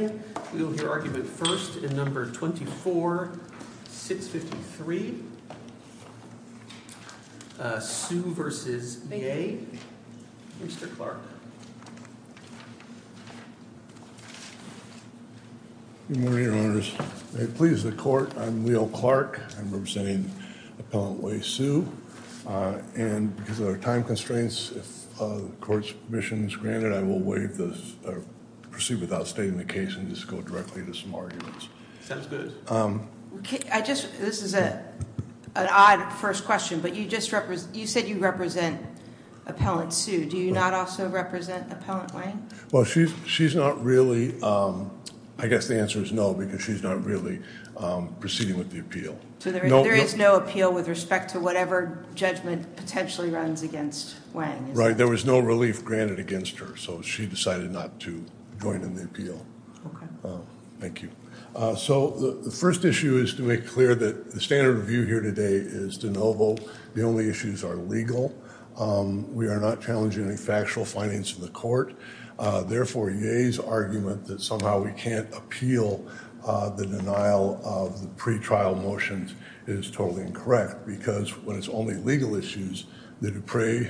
Mr. Clark Good morning, Your Honors. It pleases the court, I'm Leo Clark. I'm representing Appellant Wei Hsu. And because of our time constraints, if the court's permission is granted, I will proceed without stating the case and just go directly to some arguments. Sounds good. This is an odd first question, but you said you represent Appellant Hsu. Do you not also represent Appellant Wang? Well, she's not really, I guess the answer is no, because she's not really proceeding with the appeal. So there is no appeal with respect to whatever judgment potentially runs against Wang? Right, there was no relief granted against her, so she decided not to join in the appeal. Okay. Thank you. So the first issue is to make clear that the standard of view here today is de novo. The only issues are legal. We are not challenging any factual findings in the court. Therefore, Yeh's argument that somehow we can't appeal the denial of the pretrial motions is totally incorrect, because when it's only legal issues, the Dupre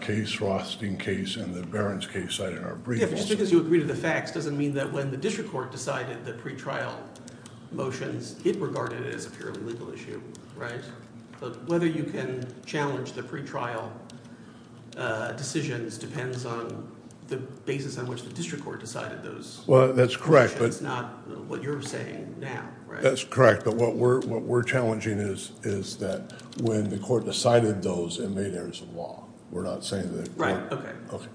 case, Rothstein case, and the Barron's case cited are brief. Just because you agree to the facts doesn't mean that when the district court decided the pretrial motions, it regarded it as a purely legal issue, right? But whether you can challenge the pretrial decisions depends on the basis on which the district court decided those motions, not what you're saying now, right? That's correct, but what we're challenging is that when the court decided those, it made errors of law. We're not saying that- Right, okay. Okay.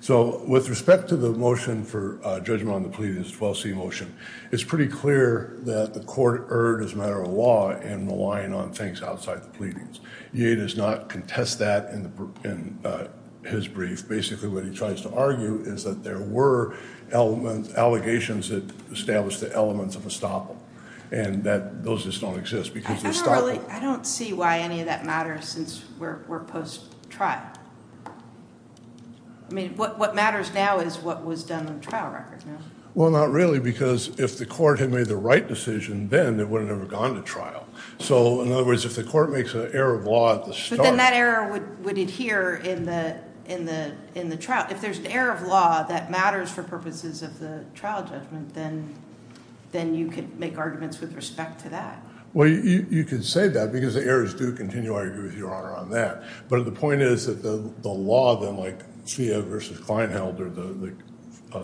So with respect to the motion for judgment on the pleadings, 12C motion, it's pretty clear that the court erred as a matter of law in relying on things outside the pleadings. Yeh does not contest that in his brief. Basically, what he tries to argue is that there were allegations that established the elements of estoppel, and that those just don't exist, because of estoppel. I don't see why any of that matters since we're post-trial. I mean, what matters now is what was done on the trial record. Well, not really, because if the court had made the right decision then, it would have never gone to trial. So, in other words, if the court makes an error of law at the start- But then that error would adhere in the trial. If there's an error of law that matters for purposes of the trial judgment, then you could make arguments with respect to that. Well, you could say that, because the errors do continue. I agree with Your Honor on that. But the point is that the law then, like Svea v. Klein held, or the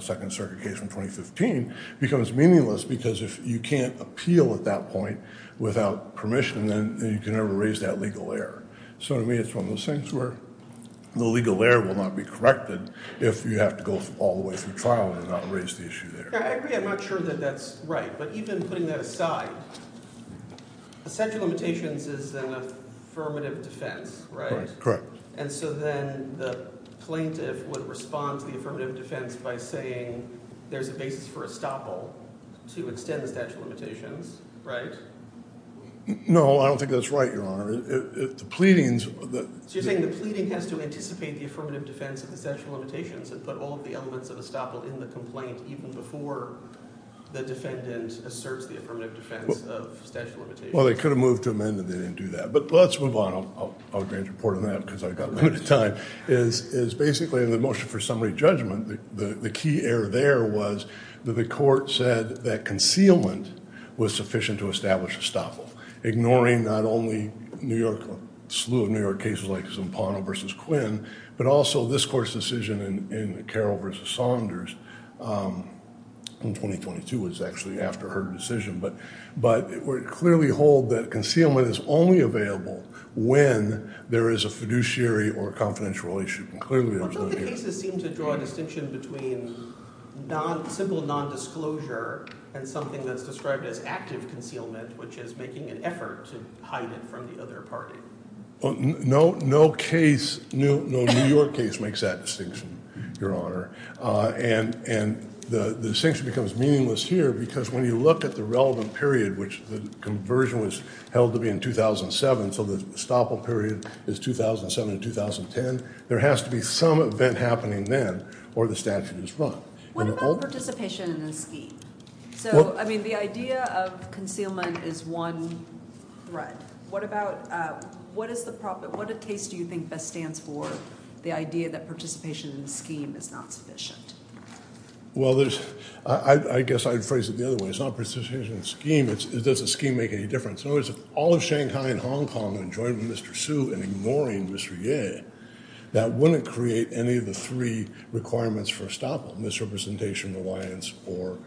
Second Circuit case from 2015, becomes meaningless because if you can't appeal at that point without permission, then you can never raise that legal error. So to me, it's one of those things where the legal error will not be corrected if you have to go all the way through trial and not raise the issue there. I agree. I'm not sure that that's right. But even putting that aside, the statute of limitations is an affirmative defense, right? Correct. And so then the plaintiff would respond to the affirmative defense by saying there's a basis for estoppel to extend the statute of limitations, right? No, I don't think that's right, Your Honor. The pleadings- So you're saying the pleading has to anticipate the affirmative defense of the statute of limitations and put all of the elements of estoppel in the complaint even before the defendant asserts the affirmative defense of statute of limitations? Well, they could have moved to amend it. They didn't do that. But let's move on. I'll grant you a report on that, because I've got limited time, is basically in the motion for summary judgment, the key error there was that the court said that concealment was sufficient to establish estoppel, ignoring not only New York, slew of New York cases like Zampano v. Quinn, but also this court's decision in Carroll v. Saunders in 2022 was actually after her decision. But it would clearly hold that concealment is only available when there is a fiduciary or confidential issue. And clearly there's no- Don't the cases seem to draw a distinction between simple nondisclosure and something that's described as active concealment, which is making an effort to hide it from the other party? No, no case, no New York case makes that distinction, Your Honor. And the distinction becomes meaningless here, because when you look at the relevant period, which the conversion was held to be in 2007, so the estoppel period is 2007 to 2010, there has to be some event happening then, or the statute is wrong. What about participation in the scheme? So, I mean, the idea of concealment is one thread. What about, what is the problem, what case do you think best stands for the idea that participation in the scheme is not sufficient? Well, there's, I guess I'd phrase it the other way. It's not participation in the scheme, it's, does the scheme make any difference? In other words, if all of Shanghai and Hong Kong enjoyed Mr. Su and ignoring Mr. Ye, that wouldn't create any of the three requirements for estoppel, misrepresentation, reliance, or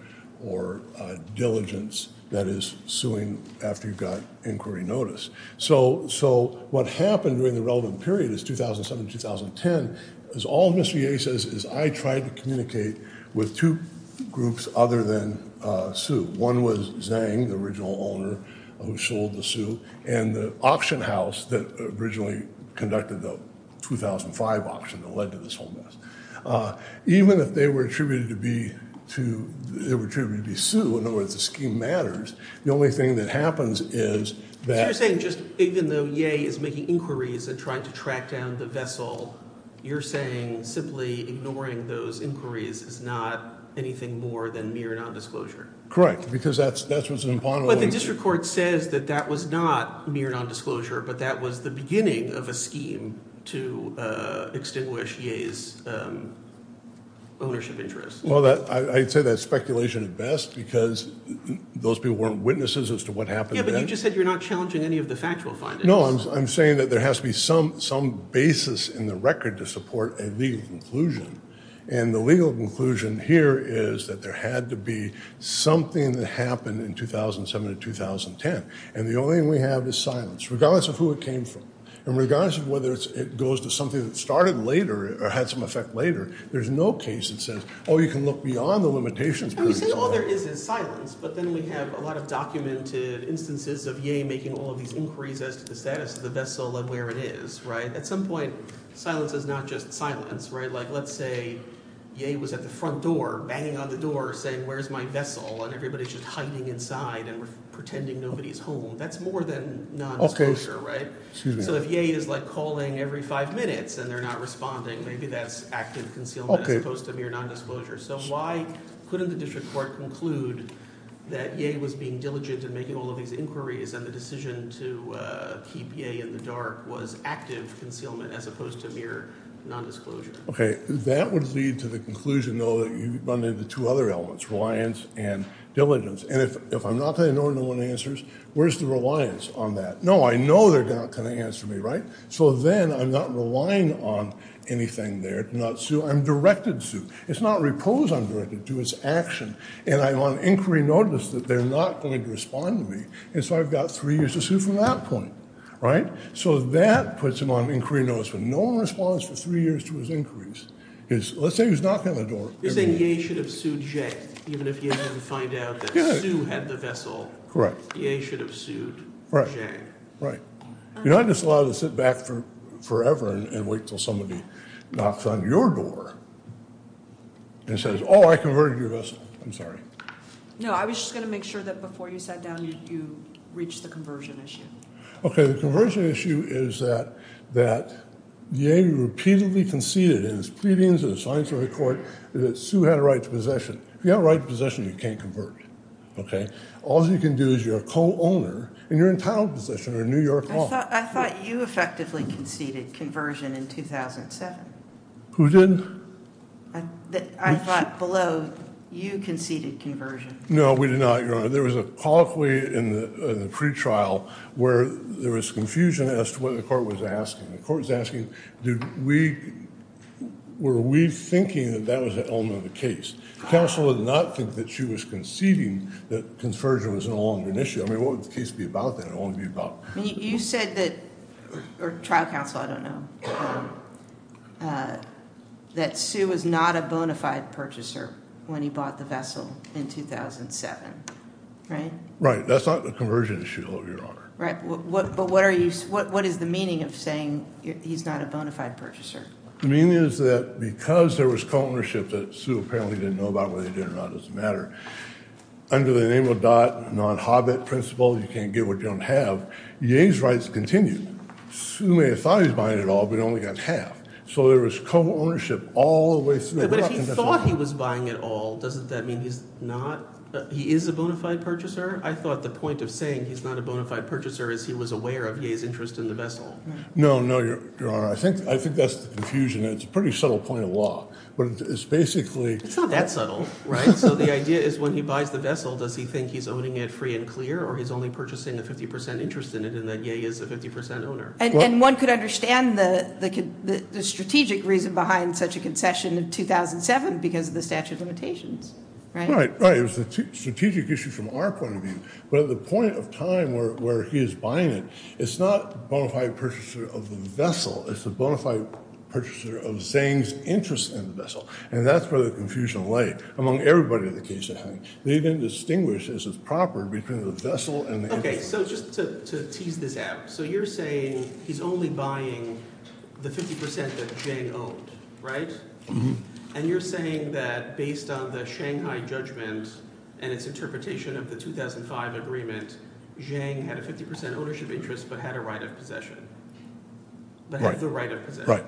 diligence, that is suing after you've got inquiry notice. So what happened during the relevant period is 2007 to 2010, is all Mr. Ye says is I tried to communicate with two groups other than Su. One was Zhang, the original owner who sold the Su, and the auction house that originally conducted the 2005 auction that led to this whole mess. Even if they were attributed to be to, they were attributed to be Su, in other words, the scheme matters. The only thing that happens is that... So you're saying just, even though Ye is making inquiries and trying to track down the vessel, you're saying simply ignoring those inquiries is not anything more than mere nondisclosure? Correct, because that's, that's what's an imponderable... But the district court says that that was not mere nondisclosure, but that was the beginning of a scheme to extinguish Ye's ownership interest. Well, I'd say that's speculation at best, because those people weren't witnesses as to what happened then. Yeah, but you just said you're not challenging any of the factual findings. No, I'm saying that there has to be some, some basis in the record to support a legal conclusion, and the legal conclusion here is that there had to be something that happened in 2007 to 2010, and the only thing we have is silence, regardless of who it came from, and regardless of whether it goes to something that started later or had some effect later. There's no case that says, oh, you can look beyond the limitations. You say all there is is silence, but then we have a lot of documented instances of Ye making all of these inquiries as to the status of the vessel and where it is, right? At some point, silence is not just silence, right? Like, let's say Ye was at the front door, banging on the door, saying, where's my vessel, and everybody's just hiding inside and pretending nobody's home. That's more than nondisclosure, right? So if Ye is, like, calling every five minutes and they're not responding, maybe that's active concealment as opposed to mere nondisclosure. So why couldn't the district court conclude that Ye was being diligent in making all of these inquiries, and the decision to keep Ye in the dark was active concealment as opposed to mere nondisclosure? Okay, that would lead to the conclusion, though, that you run into two other elements, reliance and diligence. And if I'm not going to know what one answers, where's the reliance on that? No, I know they're not going to answer me, right? So then I'm not relying on anything there. I'm directed to. It's not repose I'm directed to, it's action. And I want inquiry notice that they're not going to respond to me. And so I've got three years to sue from that point, right? So that puts him on inquiry notice, but no one responds for three years to his inquiries. Let's say he's knocking on the door. You're saying Ye should have sued Ye, even if he didn't find out that Sue had the vessel. Correct. Ye should have sued Ye. Right. You're not just allowed to sit back forever and wait till somebody knocks on your door and says, oh, I converted your vessel. I'm sorry. No, I was just going to make sure that before you sat down, you reached the conversion issue. Okay. The conversion issue is that Ye repeatedly conceded in his pleadings in the science of the court that Sue had a right to possession. If you have a right to possession, you can't convert. Okay. All you can do is you're a co-owner and you're entitled to possession or New York law. I thought you effectively conceded conversion in 2007. Who did? I thought below you conceded conversion. No, we did not, Your Honor. There was a colloquy in the pre-trial where there was confusion as to what the court was asking. The court was asking, were we thinking that that was the element of the case? Counsel did not think that Sue was conceding that conversion was no longer an issue. I mean, what would the case be about then? You said that, or trial counsel, I don't know, that Sue was not a bona fide purchaser when he bought the vessel in 2007. Right? Right. That's not the conversion issue, Your Honor. Right. But what is the meaning of saying he's not a bona fide purchaser? The meaning is that because there was co-ownership that Sue apparently didn't know about whether he did or not, it doesn't matter. Under the name of Dodd, non-Hobbit principle, you can't get what you don't have. Ye's rights continue. Sue may have thought he was buying it all, but he only got half. So there was co-ownership all the way through. But if he thought he was buying it all, doesn't that mean he's not? He is a bona fide purchaser? I thought the point of saying he's not a bona fide purchaser is he was aware of Ye's interest in the vessel. No, no, Your Honor. I think that's the confusion. It's a pretty subtle point of law. But it's basically... It's not that subtle. Right? So the idea is when he buys the vessel, does he think he's owning it free and clear or he's only purchasing a 50% interest in it and that Ye is a 50% owner? And one could understand the strategic reason behind such a concession in 2007 because of the statute of limitations. Right? Right. It was a strategic issue from our point of view. But at the point of time where he is buying it, it's not bona fide purchaser of the vessel. It's a bona fide purchaser of Zhang's interest in the vessel. And that's where the confusion lay. Among everybody in the case at hand. They didn't distinguish, as is proper, between the vessel and the interest. Okay. So just to tease this out. So you're saying he's only buying the 50% that Zhang owned. Right? And you're saying that based on the Shanghai judgment and its interpretation of the 2005 agreement, Zhang had a 50% ownership interest but had a right of possession. Right. But had the right of possession. Right.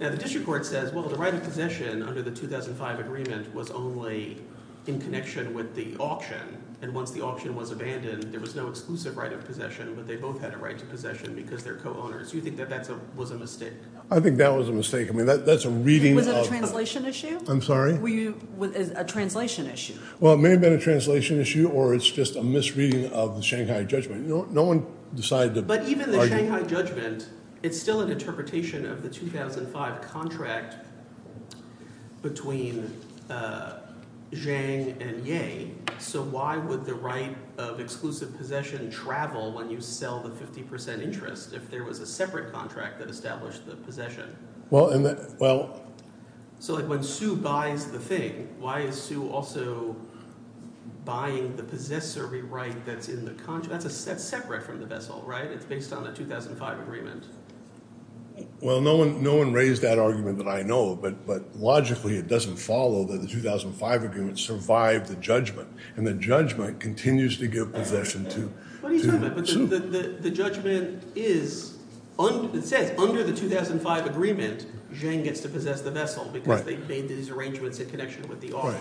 Now, the district court says, well, the right of possession under the 2005 agreement was only in connection with the auction. And once the auction was abandoned, there was no exclusive right of possession, but they both had a right to possession because they're co-owners. Do you think that that was a mistake? I think that was a mistake. I mean, that's a reading of... Was it a translation issue? I'm sorry? Well, it may have been a translation issue or it's just a misreading of the Shanghai judgment. No one decided to argue... But even the Shanghai judgment, it's still an interpretation of the 2005 contract between Zhang and Ye. So why would the right of exclusive possession travel when you sell the 50% interest if there was a separate contract that established the possession? So when Su buys the thing, why is Su also buying the possessory right that's in the contract? That's separate from the vessel, right? It's based on the 2005 agreement. Well, no one raised that argument that I know of, but logically it doesn't follow that the 2005 agreement survived the judgment. And the judgment continues to give possession to Su. But the judgment is – it says under the 2005 agreement, Zhang gets to possess the vessel because they made these arrangements in connection with the offer.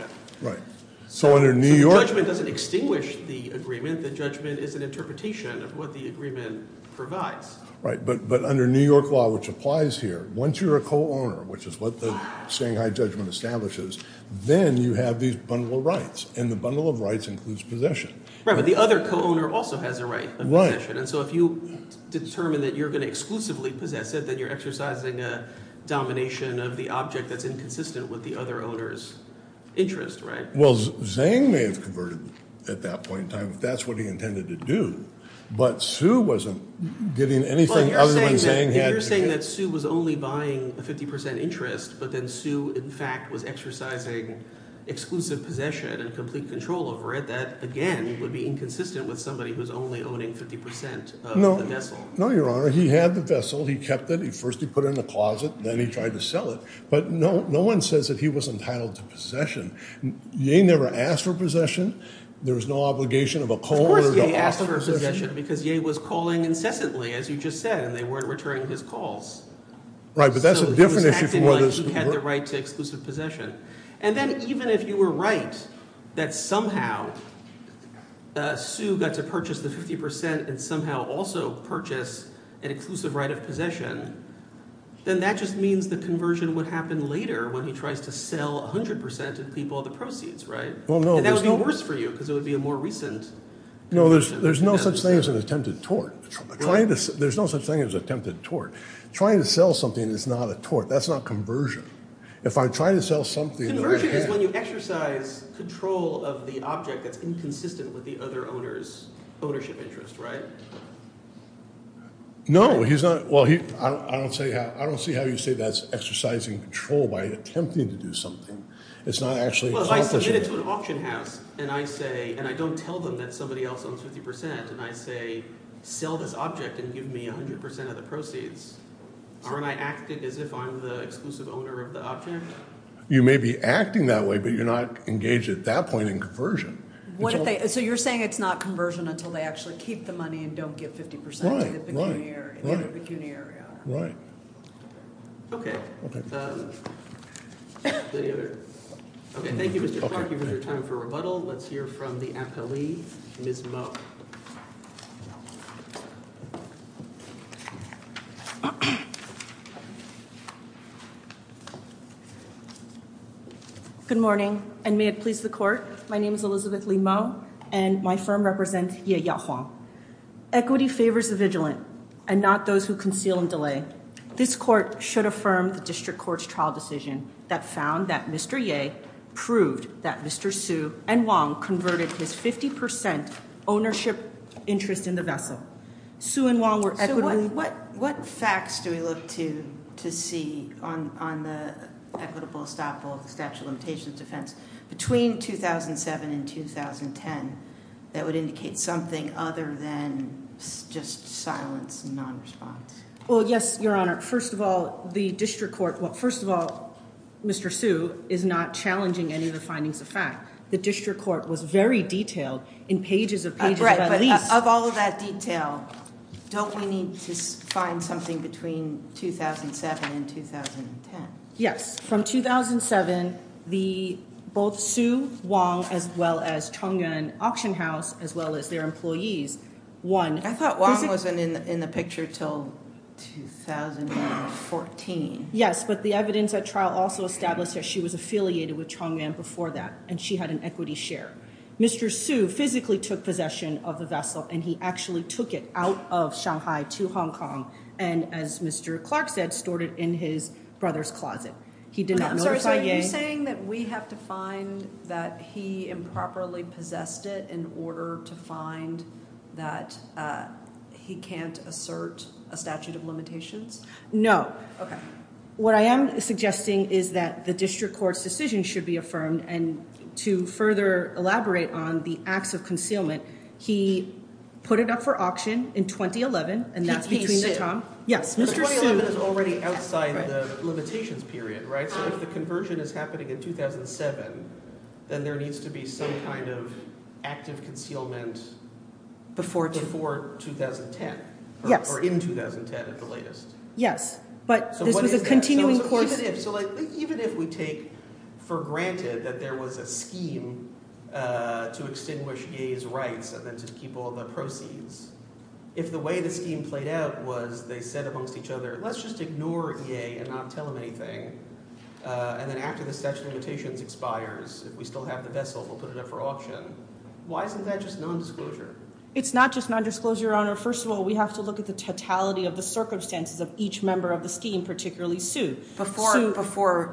So the judgment doesn't extinguish the agreement. The judgment is an interpretation of what the agreement provides. Right, but under New York law, which applies here, once you're a co-owner, which is what the Shanghai judgment establishes, then you have these bundle of rights, and the bundle of rights includes possession. Right, but the other co-owner also has a right of possession. And so if you determine that you're going to exclusively possess it, then you're exercising a domination of the object that's inconsistent with the other owner's interest, right? Well, Zhang may have converted at that point in time if that's what he intended to do. But Su wasn't getting anything other than Zhang had to give. So you're saying that Su was only buying a 50 percent interest, but then Su in fact was exercising exclusive possession and complete control over it. That, again, would be inconsistent with somebody who's only owning 50 percent of the vessel. No, Your Honor. He had the vessel. He kept it. First he put it in a closet. Then he tried to sell it. But no one says that he was entitled to possession. Ye never asked for possession. There was no obligation of a co-owner to offer possession. Because Ye was calling incessantly, as you just said, and they weren't returning his calls. Right, but that's a different issue from what is – So he was acting like he had the right to exclusive possession. And then even if you were right that somehow Su got to purchase the 50 percent and somehow also purchase an exclusive right of possession, then that just means the conversion would happen later when he tries to sell 100 percent and keep all the proceeds, right? Well, no – And that would be worse for you because it would be a more recent conversion. No, there's no such thing as an attempted tort. There's no such thing as attempted tort. Trying to sell something is not a tort. That's not conversion. If I try to sell something – Conversion is when you exercise control of the object that's inconsistent with the other owner's ownership interest, right? No, he's not – well, I don't see how you say that's exercising control by attempting to do something. It's not actually – Well, if I submit it to an auction house and I say – and I don't tell them that somebody else owns 50 percent and I say sell this object and give me 100 percent of the proceeds, aren't I acting as if I'm the exclusive owner of the object? You may be acting that way, but you're not engaged at that point in conversion. What if they – so you're saying it's not conversion until they actually keep the money and don't give 50 percent to the pecuniary. Right, right, right. The pecuniary owner. Right. Okay. Okay. Any other – okay, thank you, Mr. Clark. You've entered time for rebuttal. Let's hear from the appellee, Ms. Mo. Good morning, and may it please the court, my name is Elizabeth Lee Mo, and my firm represents Ye Ya Huang. Equity favors the vigilant and not those who conceal and delay. This court should affirm the district court's trial decision that found that Mr. Ye proved that Mr. Su and Huang converted his 50 percent ownership interest in the vessel. Su and Huang were – So what facts do we look to see on the equitable estoppel of the statute of limitations defense between 2007 and 2010 that would indicate something other than just silence and non-response? Well, yes, Your Honor. First of all, the district court – well, first of all, Mr. Su is not challenging any of the findings of fact. The district court was very detailed in pages of pages of at least – Right, but of all of that detail, don't we need to find something between 2007 and 2010? Yes. From 2007, the – both Su, Huang, as well as Chongyun Auction House, as well as their employees, won – I thought Huang wasn't in the picture until 2014. Yes, but the evidence at trial also established that she was affiliated with Chongyun before that, and she had an equity share. Mr. Su physically took possession of the vessel, and he actually took it out of Shanghai to Hong Kong and, as Mr. Clark said, stored it in his brother's closet. He did not notify Ye. Are you saying that we have to find that he improperly possessed it in order to find that he can't assert a statute of limitations? No. Okay. What I am suggesting is that the district court's decision should be affirmed, and to further elaborate on the acts of concealment, he put it up for auction in 2011, and that's between – Yes, Mr. Su. So that is already outside the limitations period, right? So if the conversion is happening in 2007, then there needs to be some kind of active concealment before 2010. Yes. Or in 2010 at the latest. Yes, but this was a continuing course. Even if – so even if we take for granted that there was a scheme to extinguish Ye's rights and then to keep all the proceeds, if the way the scheme played out was they said amongst each other, let's just ignore Ye and not tell him anything, and then after the statute of limitations expires, if we still have the vessel, we'll put it up for auction, why isn't that just nondisclosure? It's not just nondisclosure, Your Honor. First of all, we have to look at the totality of the circumstances of each member of the scheme, particularly Su. Before 2010.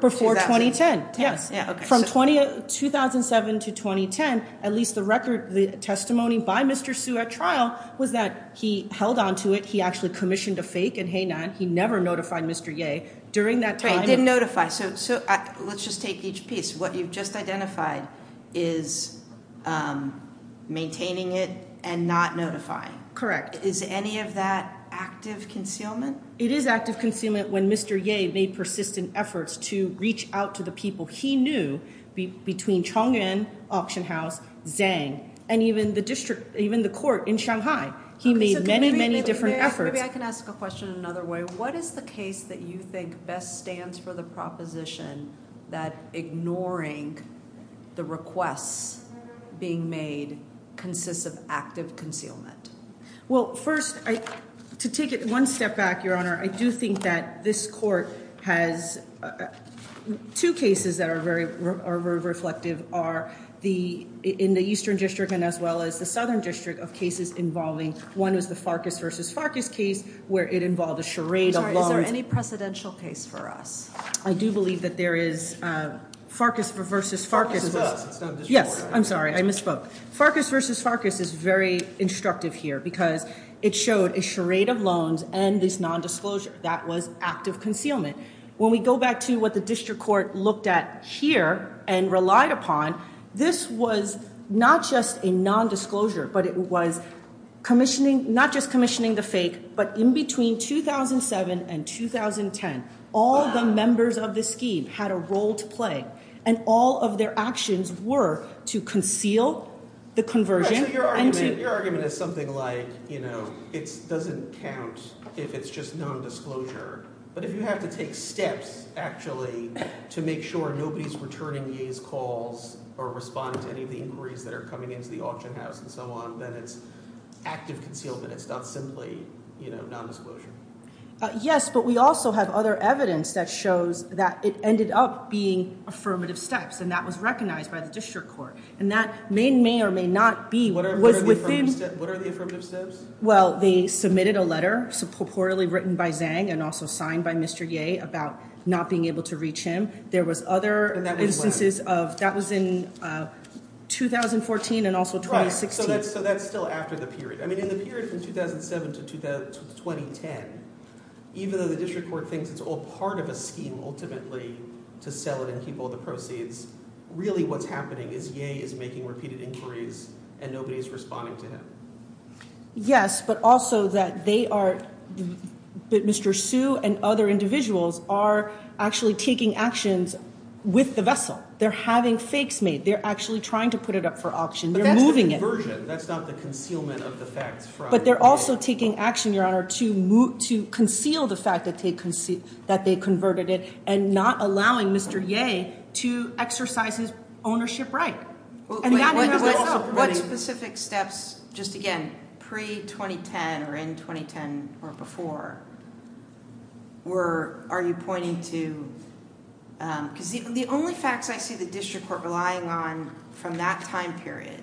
Before 2010, yes. From 2007 to 2010, at least the record, the testimony by Mr. Su at trial was that he held onto it, he actually commissioned a fake and he never notified Mr. Ye during that time. He didn't notify. So let's just take each piece. What you've just identified is maintaining it and not notifying. Correct. Is any of that active concealment? It is active concealment when Mr. Ye made persistent efforts to reach out to the people he knew between Chongyun Auction House, Zhang, and even the district – even the court in Shanghai. He made many, many different efforts. Maybe I can ask a question another way. What is the case that you think best stands for the proposition that ignoring the requests being made consists of active concealment? Well, first, to take it one step back, Your Honor, I do think that this court has two cases that are very reflective are in the Eastern District and as well as the Southern District of cases involving – one is the Farkas v. Farkas case where it involved a charade of loans. Is there any precedential case for us? I do believe that there is Farkas v. Farkas. Farkas does. Yes. I'm sorry. I misspoke. Farkas v. Farkas is very instructive here because it showed a charade of loans and this nondisclosure. That was active concealment. When we go back to what the district court looked at here and relied upon, this was not just a nondisclosure but it was commissioning – not just commissioning the fake but in between 2007 and 2010, all the members of the scheme had a role to play and all of their actions were to conceal the conversion and to – to make sure nobody is returning Ye's calls or responding to any of the inquiries that are coming into the auction house and so on. Then it's active concealment. It's not simply nondisclosure. Yes, but we also have other evidence that shows that it ended up being affirmative steps and that was recognized by the district court and that may or may not be within – What are the affirmative steps? Well, they submitted a letter purportedly written by Zhang and also signed by Mr. Ye about not being able to reach him. There was other instances of – that was in 2014 and also 2016. So that's still after the period. I mean in the period from 2007 to 2010, even though the district court thinks it's all part of a scheme ultimately to sell it and keep all the proceeds, really what's happening is Ye is making repeated inquiries and nobody is responding to him. Yes, but also that they are – that Mr. Su and other individuals are actually taking actions with the vessel. They're having fakes made. They're actually trying to put it up for auction. They're moving it. But that's the conversion. That's not the concealment of the facts from – But they're also taking action, Your Honor, to conceal the fact that they converted it and not allowing Mr. Ye to exercise his ownership right. What specific steps, just again, pre-2010 or in 2010 or before were – are you pointing to – because the only facts I see the district court relying on from that time period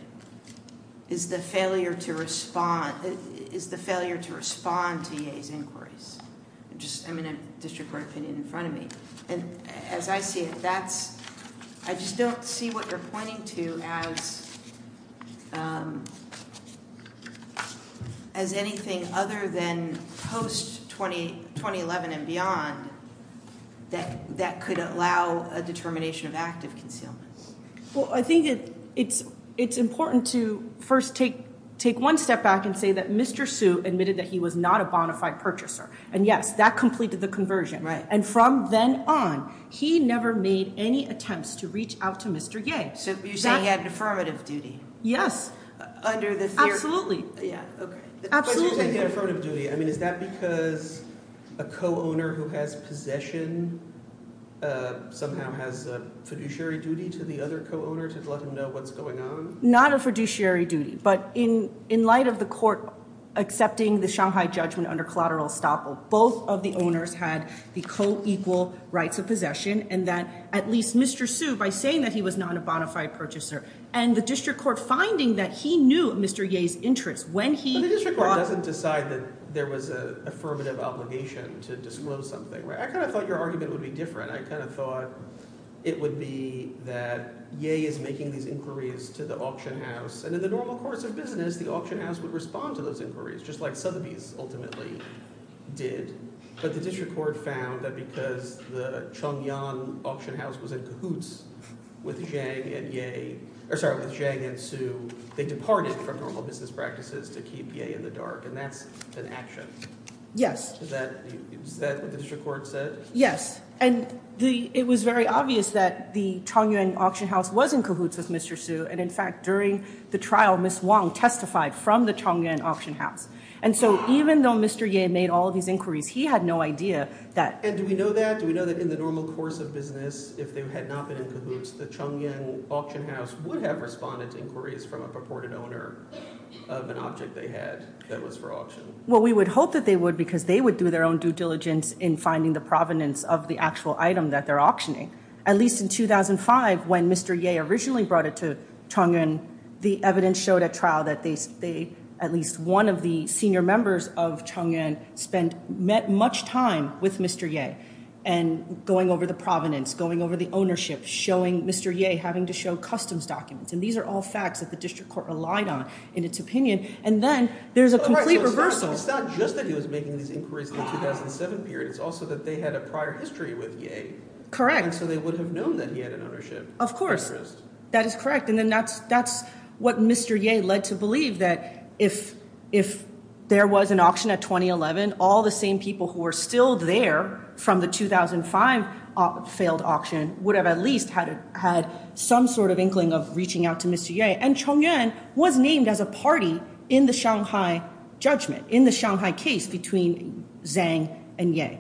is the failure to respond to Ye's inquiries. I'm just – I mean a district court opinion in front of me. And as I see it, that's – I just don't see what you're pointing to as anything other than post-2011 and beyond that could allow a determination of active concealment. Well, I think it's important to first take one step back and say that Mr. Su admitted that he was not a bona fide purchaser, and yes, that completed the conversion. Right. And from then on, he never made any attempts to reach out to Mr. Ye. So you're saying he had an affirmative duty? Yes. Under the theory – Yeah, okay. Absolutely. But you're saying he had affirmative duty. I mean is that because a co-owner who has possession somehow has a fiduciary duty to the other co-owner to let him know what's going on? Not a fiduciary duty, but in light of the court accepting the Shanghai judgment under collateral estoppel, both of the owners had the co-equal rights of possession and that at least Mr. Su, by saying that he was not a bona fide purchaser, and the district court finding that he knew Mr. Ye's interests when he – The district court doesn't decide that there was an affirmative obligation to disclose something. I kind of thought your argument would be different. I kind of thought it would be that Ye is making these inquiries to the auction house, and in the normal course of business, the auction house would respond to those inquiries just like Sotheby's ultimately did. But the district court found that because the Chongyang auction house was in cahoots with Zhang and Ye – or sorry, with Zhang and Su, they departed from normal business practices to keep Ye in the dark, and that's an action. Yes. Is that what the district court said? Yes, and it was very obvious that the Chongyang auction house was in cahoots with Mr. Su, and in fact during the trial, Ms. Wang testified from the Chongyang auction house. And so even though Mr. Ye made all of these inquiries, he had no idea that – And do we know that? Do we know that in the normal course of business, if they had not been in cahoots, the Chongyang auction house would have responded to inquiries from a purported owner of an object they had that was for auction? Well, we would hope that they would because they would do their own due diligence in finding the provenance of the actual item that they're auctioning. At least in 2005, when Mr. Ye originally brought it to Chongyang, the evidence showed at trial that they – at least one of the senior members of Chongyang spent – met much time with Mr. Ye and going over the provenance, going over the ownership, showing Mr. Ye having to show customs documents. And these are all facts that the district court relied on in its opinion. And then there's a complete reversal. It's not just that he was making these inquiries in the 2007 period. It's also that they had a prior history with Ye. Correct. So they would have known that he had an ownership interest. Of course. That is correct. And then that's what Mr. Ye led to believe that if there was an auction at 2011, all the same people who were still there from the 2005 failed auction would have at least had some sort of inkling of reaching out to Mr. Ye. And Chongyang was named as a party in the Shanghai judgment, in the Shanghai case between Zhang and Ye.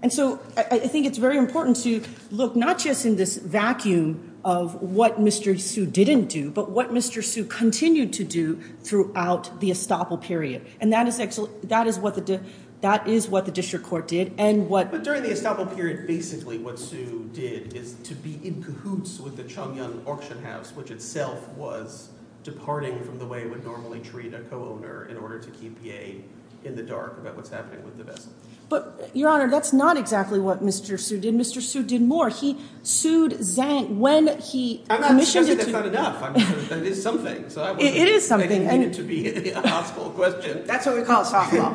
And so I think it's very important to look not just in this vacuum of what Mr. Su didn't do but what Mr. Su continued to do throughout the estoppel period. And that is what the district court did and what –– in cahoots with the Chongyang auction house, which itself was departing from the way it would normally treat a co-owner in order to keep Ye in the dark about what's happening with the vessel. But, Your Honor, that's not exactly what Mr. Su did. Mr. Su did more. He sued Zhang when he commissioned it to – I'm not suggesting that's not enough. That is something. It is something. I didn't mean it to be a hostile question. That's what we call softball.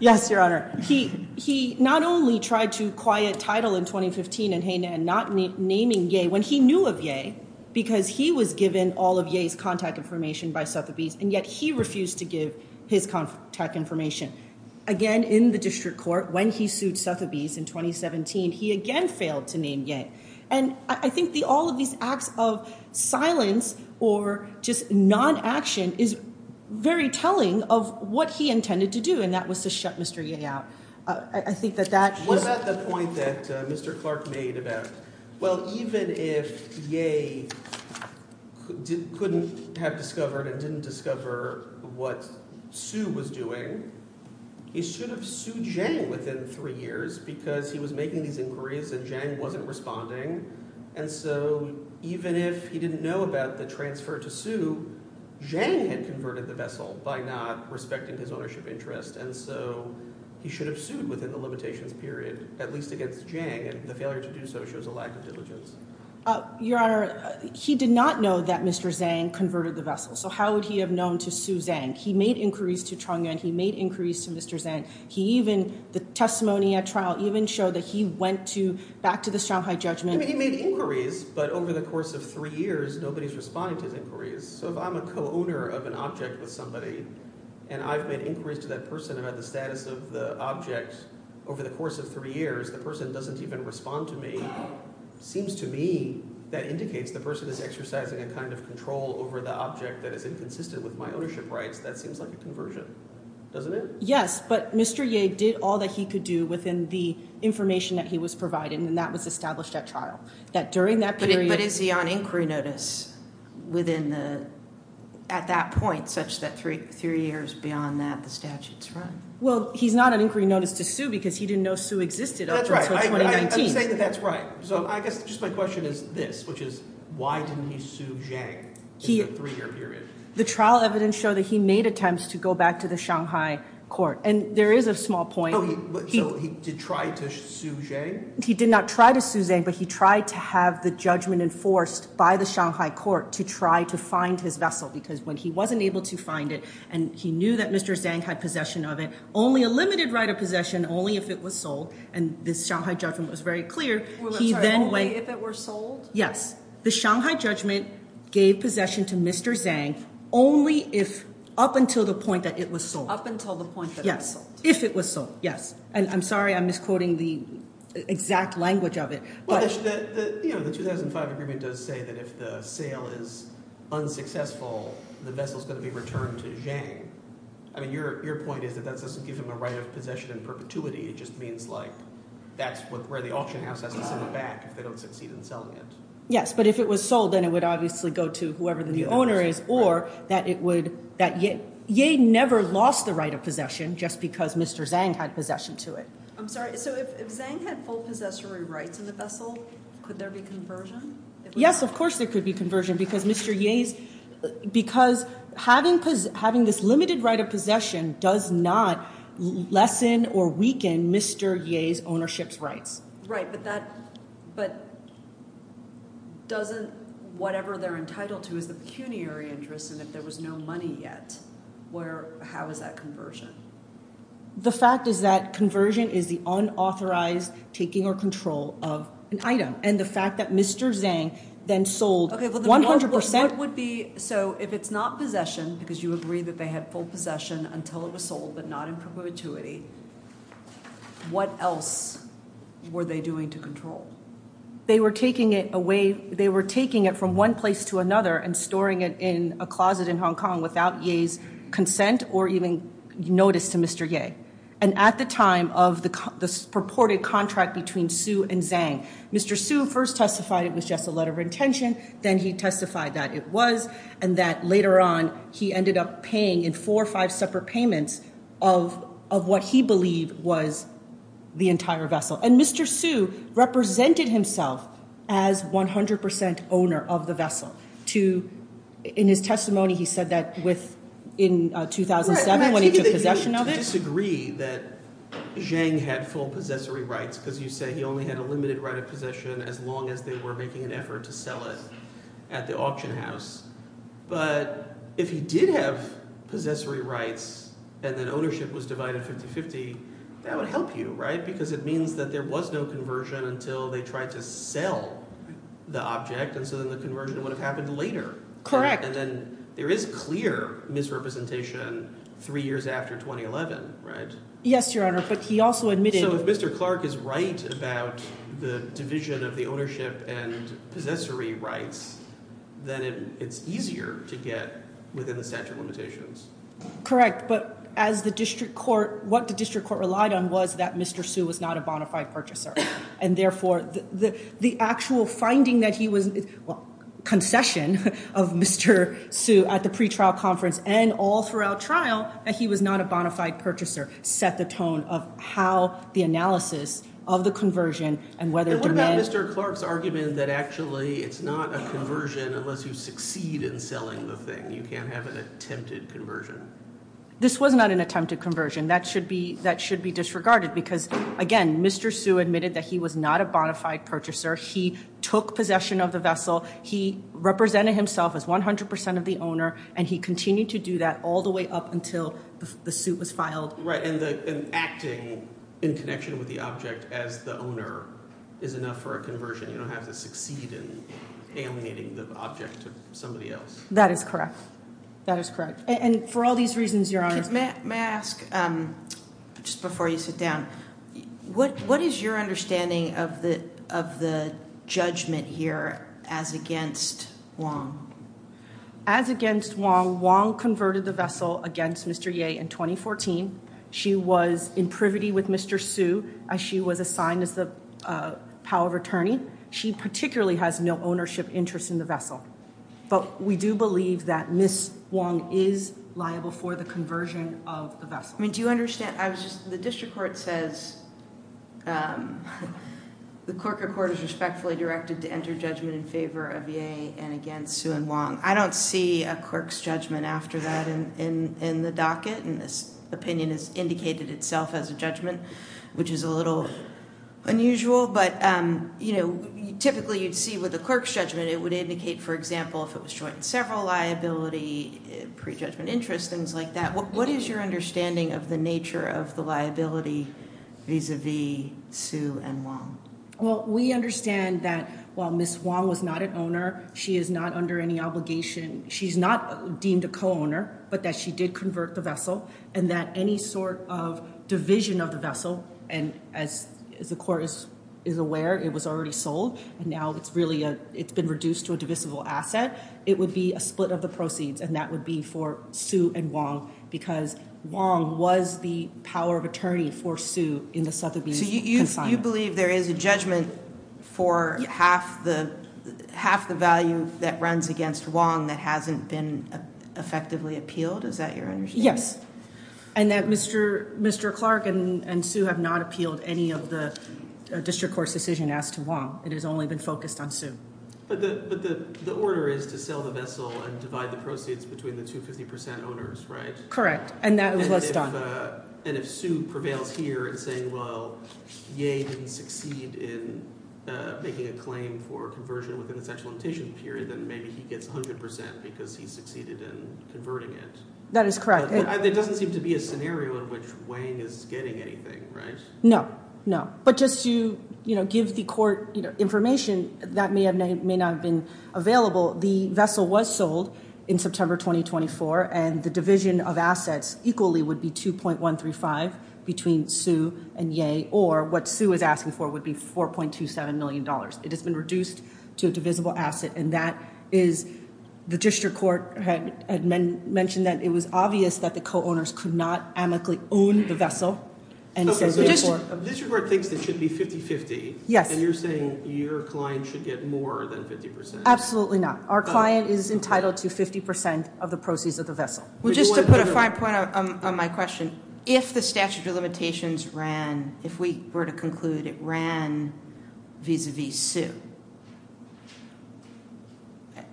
Yes, Your Honor. He not only tried to quiet title in 2015 and not naming Ye when he knew of Ye because he was given all of Ye's contact information by Sotheby's and yet he refused to give his contact information. Again, in the district court, when he sued Sotheby's in 2017, he again failed to name Ye. And I think all of these acts of silence or just non-action is very telling of what he intended to do, and that was to shut Mr. Ye out. I think that that – What about the point that Mr. Clark made about, well, even if Ye couldn't have discovered and didn't discover what Su was doing, he should have sued Zhang within three years because he was making these inquiries and Zhang wasn't responsible. And so even if he didn't know about the transfer to Su, Zhang had converted the vessel by not respecting his ownership interest. And so he should have sued within the limitations period, at least against Zhang, and the failure to do so shows a lack of diligence. Your Honor, he did not know that Mr. Zhang converted the vessel. So how would he have known to sue Zhang? He made inquiries to Chong Yuan. He made inquiries to Mr. Zhang. He even – the testimony at trial even showed that he went to – back to the Shanghai judgment. He made inquiries, but over the course of three years, nobody is responding to his inquiries. So if I'm a co-owner of an object with somebody and I've made inquiries to that person about the status of the object over the course of three years, the person doesn't even respond to me. It seems to me that indicates the person is exercising a kind of control over the object that is inconsistent with my ownership rights. That seems like a conversion, doesn't it? Yes, but Mr. Ye did all that he could do within the information that he was provided, and that was established at trial, that during that period – But is he on inquiry notice within the – at that point such that three years beyond that, the statute is run? Well, he's not on inquiry notice to sue because he didn't know Sue existed up until 2019. That's right. I'm saying that that's right. So I guess just my question is this, which is why didn't he sue Zhang in the three-year period? The trial evidence showed that he made attempts to go back to the Shanghai court, and there is a small point. Oh, so he did try to sue Zhang? He did not try to sue Zhang, but he tried to have the judgment enforced by the Shanghai court to try to find his vessel because when he wasn't able to find it and he knew that Mr. Zhang had possession of it, only a limited right of possession, only if it was sold, and the Shanghai judgment was very clear. I'm sorry, only if it were sold? Yes, the Shanghai judgment gave possession to Mr. Zhang only if – up until the point that it was sold. Up until the point that it was sold. Yes, if it was sold, yes, and I'm sorry I'm misquoting the exact language of it. The 2005 agreement does say that if the sale is unsuccessful, the vessel is going to be returned to Zhang. I mean your point is that that doesn't give him a right of possession in perpetuity. It just means like that's where the auction house has to sit back if they don't succeed in selling it. Yes, but if it was sold, then it would obviously go to whoever the owner is or that it would – that Ye never lost the right of possession just because Mr. Zhang had possession to it. I'm sorry, so if Zhang had full possessory rights in the vessel, could there be conversion? Yes, of course there could be conversion because Mr. Ye's – because having this limited right of possession does not lessen or weaken Mr. Ye's ownership's rights. Right, but that – but doesn't – whatever they're entitled to is the pecuniary interest and if there was no money yet, where – how is that conversion? The fact is that conversion is the unauthorized taking or control of an item and the fact that Mr. Zhang then sold 100% – Okay, but what would be – so if it's not possession because you agree that they had full possession until it was sold but not in perpetuity, what else were they doing to control? They were taking it away – they were taking it from one place to another and storing it in a closet in Hong Kong without Ye's consent or even notice to Mr. Ye. And at the time of the purported contract between Su and Zhang, Mr. Su first testified it was just a letter of intention, then he testified that it was and that later on, he ended up paying in four or five separate payments of what he believed was the entire vessel. And Mr. Su represented himself as 100% owner of the vessel to – in his testimony he said that with – in 2007 when he took possession of it. I disagree that Zhang had full possessory rights because you say he only had a limited right of possession as long as they were making an effort to sell it at the auction house. But if he did have possessory rights and then ownership was divided 50-50, that would help you because it means that there was no conversion until they tried to sell the object, and so then the conversion would have happened later. Correct. And then there is clear misrepresentation three years after 2011, right? Yes, Your Honor, but he also admitted – So if Mr. Clark is right about the division of the ownership and possessory rights, then it's easier to get within the statute of limitations. Correct, but as the district court – what the district court relied on was that Mr. Su was not a bona fide purchaser and therefore the actual finding that he was – well, concession of Mr. Su at the pretrial conference and all throughout trial that he was not a bona fide purchaser set the tone of how the analysis of the conversion and whether – Mr. Clark's argument that actually it's not a conversion unless you succeed in selling the thing. You can't have an attempted conversion. This was not an attempted conversion. That should be disregarded because, again, Mr. Su admitted that he was not a bona fide purchaser. He took possession of the vessel. He represented himself as 100 percent of the owner, and he continued to do that all the way up until the suit was filed. Right, and acting in connection with the object as the owner is enough for a conversion. You don't have to succeed in alienating the object to somebody else. That is correct. That is correct, and for all these reasons, Your Honor – May I ask, just before you sit down, what is your understanding of the judgment here as against Wong? As against Wong, Wong converted the vessel against Mr. Ye in 2014. She was in privity with Mr. Su as she was assigned as the power of attorney. She particularly has no ownership interest in the vessel, but we do believe that Ms. Wong is liable for the conversion of the vessel. I mean, do you understand – I was just – the district court says the corker court is respectfully directed to enter judgment in favor of Ye and against Su and Wong. I don't see a clerk's judgment after that in the docket, and this opinion has indicated itself as a judgment, which is a little unusual, but typically you'd see with a clerk's judgment, it would indicate, for example, if it was joint and several liability, prejudgment interest, things like that. What is your understanding of the nature of the liability vis-a-vis Su and Wong? Well, we understand that while Ms. Wong was not an owner, she is not under any obligation – she's not deemed a co-owner, but that she did convert the vessel, and that any sort of division of the vessel – and as the court is aware, it was already sold, and now it's been reduced to a divisible asset – it would be a split of the proceeds, and that would be for Su and Wong, because Wong was the power of attorney for Su in the Sotheby's consignment. So you believe there is a judgment for half the value that runs against Wong that hasn't been effectively appealed? Is that your understanding? Yes, and that Mr. Clark and Su have not appealed any of the district court's decision as to Wong. It has only been focused on Su. But the order is to sell the vessel and divide the proceeds between the two 50 percent owners, right? Correct, and that was what's done. And if Su prevails here in saying, well, Ye didn't succeed in making a claim for conversion within the sexual limitation period, then maybe he gets 100 percent because he succeeded in converting it. That is correct. There doesn't seem to be a scenario in which Wang is getting anything, right? No, no. But just to give the court information that may or may not have been available, the vessel was sold in September 2024, and the division of assets equally would be 2.135 between Su and Ye, or what Su is asking for would be $4.27 million. It has been reduced to a divisible asset, and that is – the district court had mentioned that it was obvious that the co-owners could not amicably own the vessel. The district court thinks it should be 50-50, and you're saying your client should get more than 50 percent. Absolutely not. Our client is entitled to 50 percent of the proceeds of the vessel. Well, just to put a fine point on my question, if the statute of limitations ran – if we were to conclude it ran vis-à-vis Su,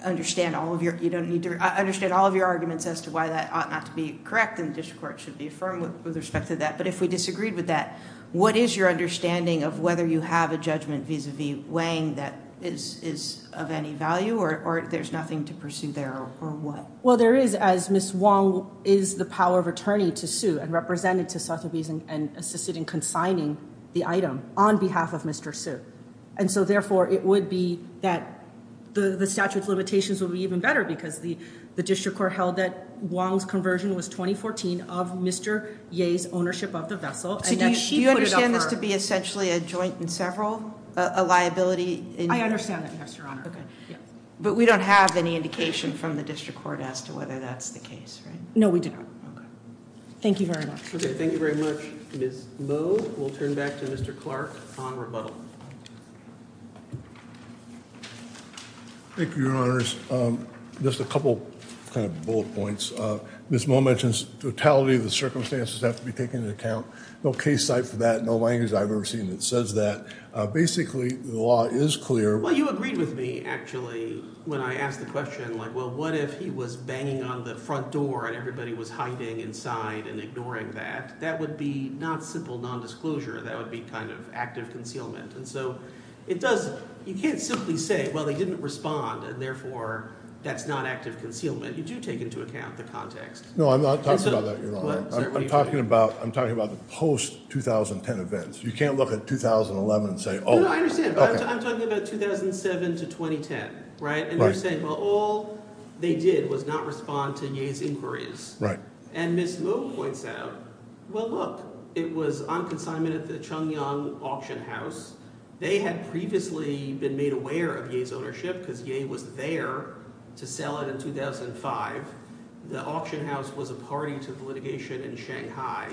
I understand all of your – you don't need to – I understand all of your arguments as to why that ought not to be correct, and the district court should be affirmed with respect to that. But if we disagreed with that, what is your understanding of whether you have a judgment vis-à-vis Wang that is of any value, or there's nothing to pursue there, or what? Well, there is, as Ms. Wang is the power of attorney to Su and represented to Sotheby's and assisted in consigning the item on behalf of Mr. Su. And so, therefore, it would be that the statute of limitations would be even better, because the district court held that Wang's conversion was 2014 of Mr. Ye's ownership of the vessel. So do you understand this to be essentially a joint and several, a liability? I understand that, Mr. Honor. Okay. But we don't have any indication from the district court as to whether that's the case, right? No, we do not. Okay. Thank you very much. Okay, thank you very much. Ms. Moe will turn back to Mr. Clark on rebuttal. Thank you, Your Honors. Just a couple kind of bullet points. Ms. Moe mentions totality of the circumstances have to be taken into account. No case site for that, no language I've ever seen that says that. Basically, the law is clear. Well, you agreed with me, actually, when I asked the question, like, well, what if he was banging on the front door and everybody was hiding inside and ignoring that? That would be not simple nondisclosure. That would be kind of active concealment. And so it does you can't simply say, well, they didn't respond, and, therefore, that's not active concealment. You do take into account the context. No, I'm not talking about that, Your Honor. I'm talking about the post-2010 events. You can't look at 2011 and say, oh, okay. No, no, I understand. I'm talking about 2007 to 2010, right? And you're saying, well, all they did was not respond to Ye's inquiries. And Ms. Moe points out, well, look, it was on consignment at the Chongyang Auction House. They had previously been made aware of Ye's ownership because Ye was there to sell it in 2005. The auction house was a party to the litigation in Shanghai.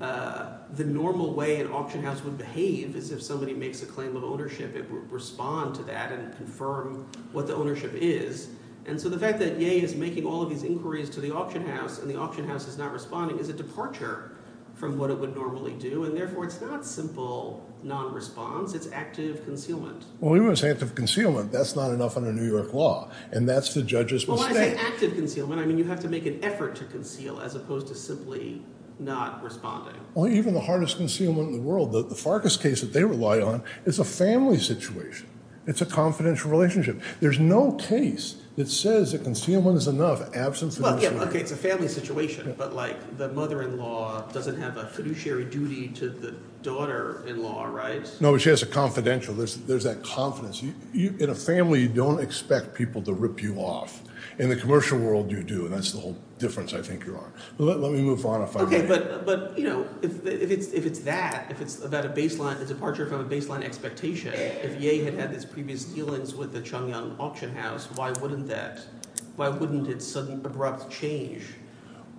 The normal way an auction house would behave is if somebody makes a claim of ownership, it would respond to that and confirm what the ownership is. And so the fact that Ye is making all of these inquiries to the auction house and the auction house is not responding is a departure from what it would normally do. And, therefore, it's not simple nonresponse. It's active concealment. Well, even if it's active concealment, that's not enough under New York law, and that's the judge's mistake. Well, why is it active concealment? I mean you have to make an effort to conceal as opposed to simply not responding. Well, even the hardest concealment in the world, the Farkas case that they rely on, is a family situation. It's a confidential relationship. There's no case that says a concealment is enough absent financial— Well, OK, it's a family situation, but, like, the mother-in-law doesn't have a fiduciary duty to the daughter-in-law, right? No, but she has a confidential. There's that confidence. In a family, you don't expect people to rip you off. In the commercial world, you do, and that's the whole difference I think you're on. Let me move on if I may. OK, but, you know, if it's that, if it's about a baseline—a departure from a baseline expectation, if Ye had had his previous dealings with the Chongyang auction house, why wouldn't that—why wouldn't it sudden, abrupt change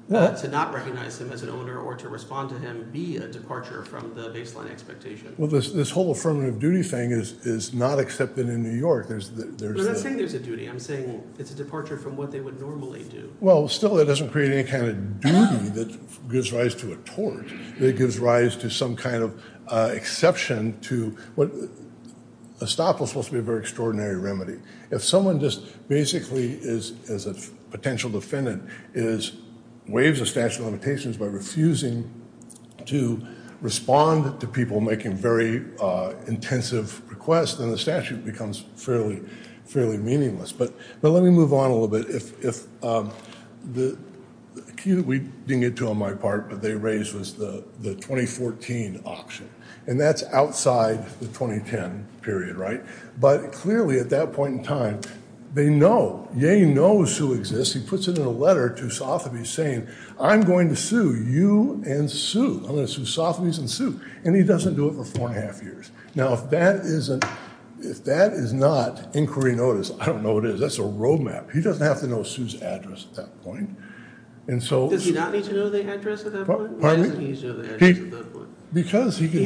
to not recognize him as an owner or to respond to him be a departure from the baseline expectation? Well, this whole affirmative duty thing is not accepted in New York. I'm not saying there's a duty. I'm saying it's a departure from what they would normally do. Well, still, it doesn't create any kind of duty that gives rise to a tort. It gives rise to some kind of exception to what—a stop was supposed to be a very extraordinary remedy. If someone just basically is a potential defendant, is—waves a statute of limitations by refusing to respond to people making very intensive requests, then the statute becomes fairly meaningless. But let me move on a little bit. If the—we didn't get to on my part, but they raised was the 2014 auction, and that's outside the 2010 period, right? But clearly, at that point in time, they know—Ye knows Sue exists. He puts it in a letter to Sotheby's saying, I'm going to sue you and Sue. I'm going to sue Sotheby's and Sue. And he doesn't do it for four and a half years. Now, if that isn't—if that is not inquiry notice, I don't know what is. That's a road map. He doesn't have to know Sue's address at that point. And so— Does he not need to know the address at that point? Pardon me? Why doesn't he need to know the address at that point? Because he can—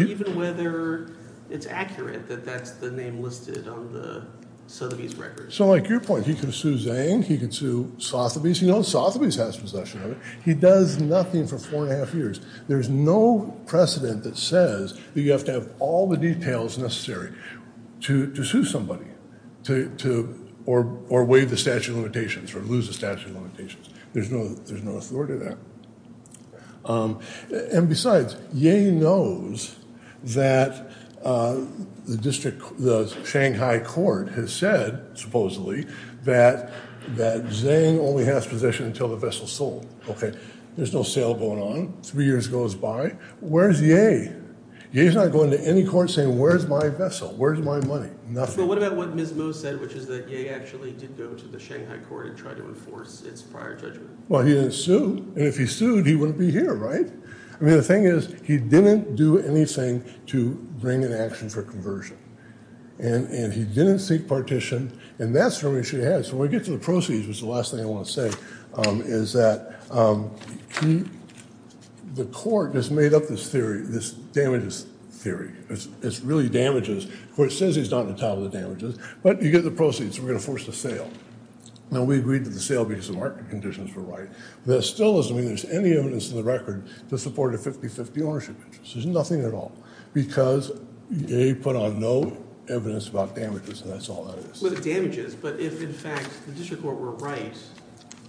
Even whether it's accurate that that's the name listed on the Sotheby's record. So, like your point, he can sue Zhang. He can sue Sotheby's. He knows Sotheby's has possession of it. He does nothing for four and a half years. There's no precedent that says that you have to have all the details necessary to sue somebody or waive the statute of limitations or lose the statute of limitations. There's no authority to that. And besides, Ye knows that the district—the Shanghai court has said, supposedly, that Zhang only has possession until the vessel is sold. Okay. There's no sale going on. Three years goes by. Where's Ye? Ye's not going to any court saying, where's my vessel? Where's my money? Nothing. But what about what Ms. Mo said, which is that Ye actually did go to the Shanghai court and tried to enforce its prior judgment? Well, he didn't sue. And if he sued, he wouldn't be here, right? I mean, the thing is, he didn't do anything to bring an action for conversion. And he didn't seek partition. And that's the only issue he had. So when we get to the proceeds, which is the last thing I want to say, is that the court has made up this theory, this damages theory. It's really damages. The court says he's not entitled to damages. But you get the proceeds. We're going to force a sale. Now, we agreed to the sale because the market conditions were right. That still doesn't mean there's any evidence in the record to support a 50-50 ownership interest. There's nothing at all. Because Ye put on no evidence about damages. And that's all that is. Well, the damages. But if, in fact, the district court were right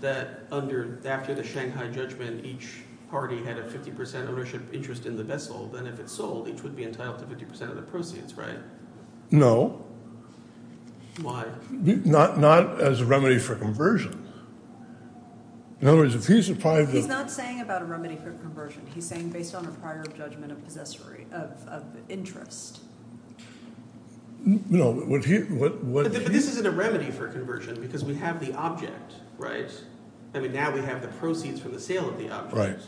that after the Shanghai judgment, each party had a 50 percent ownership interest in the vessel, then if it's sold, each would be entitled to 50 percent of the proceeds, right? No. Why? Not as a remedy for conversion. In other words, if he's deprived of— He's not saying about a remedy for conversion. He's saying based on a prior judgment of interest. No. But this isn't a remedy for conversion because we have the object, right? I mean, now we have the proceeds from the sale of the object. Right.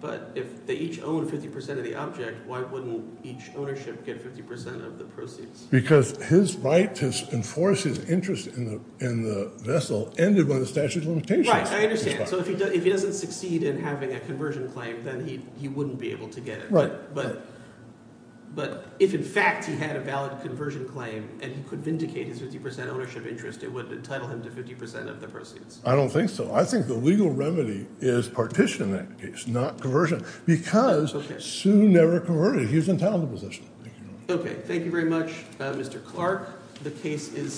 But if they each own 50 percent of the object, why wouldn't each ownership get 50 percent of the proceeds? Because his right to enforce his interest in the vessel ended when the statute of limitations was passed. Right. I understand. So if he doesn't succeed in having a conversion claim, then he wouldn't be able to get it. Right. But if, in fact, he had a valid conversion claim and he could vindicate his 50 percent ownership interest, it would entitle him to 50 percent of the proceeds. I don't think so. I think the legal remedy is partition in that case, not conversion, because Su never converted. He was entitled to possession. Okay. Thank you very much, Mr. Clark. The case is submitted.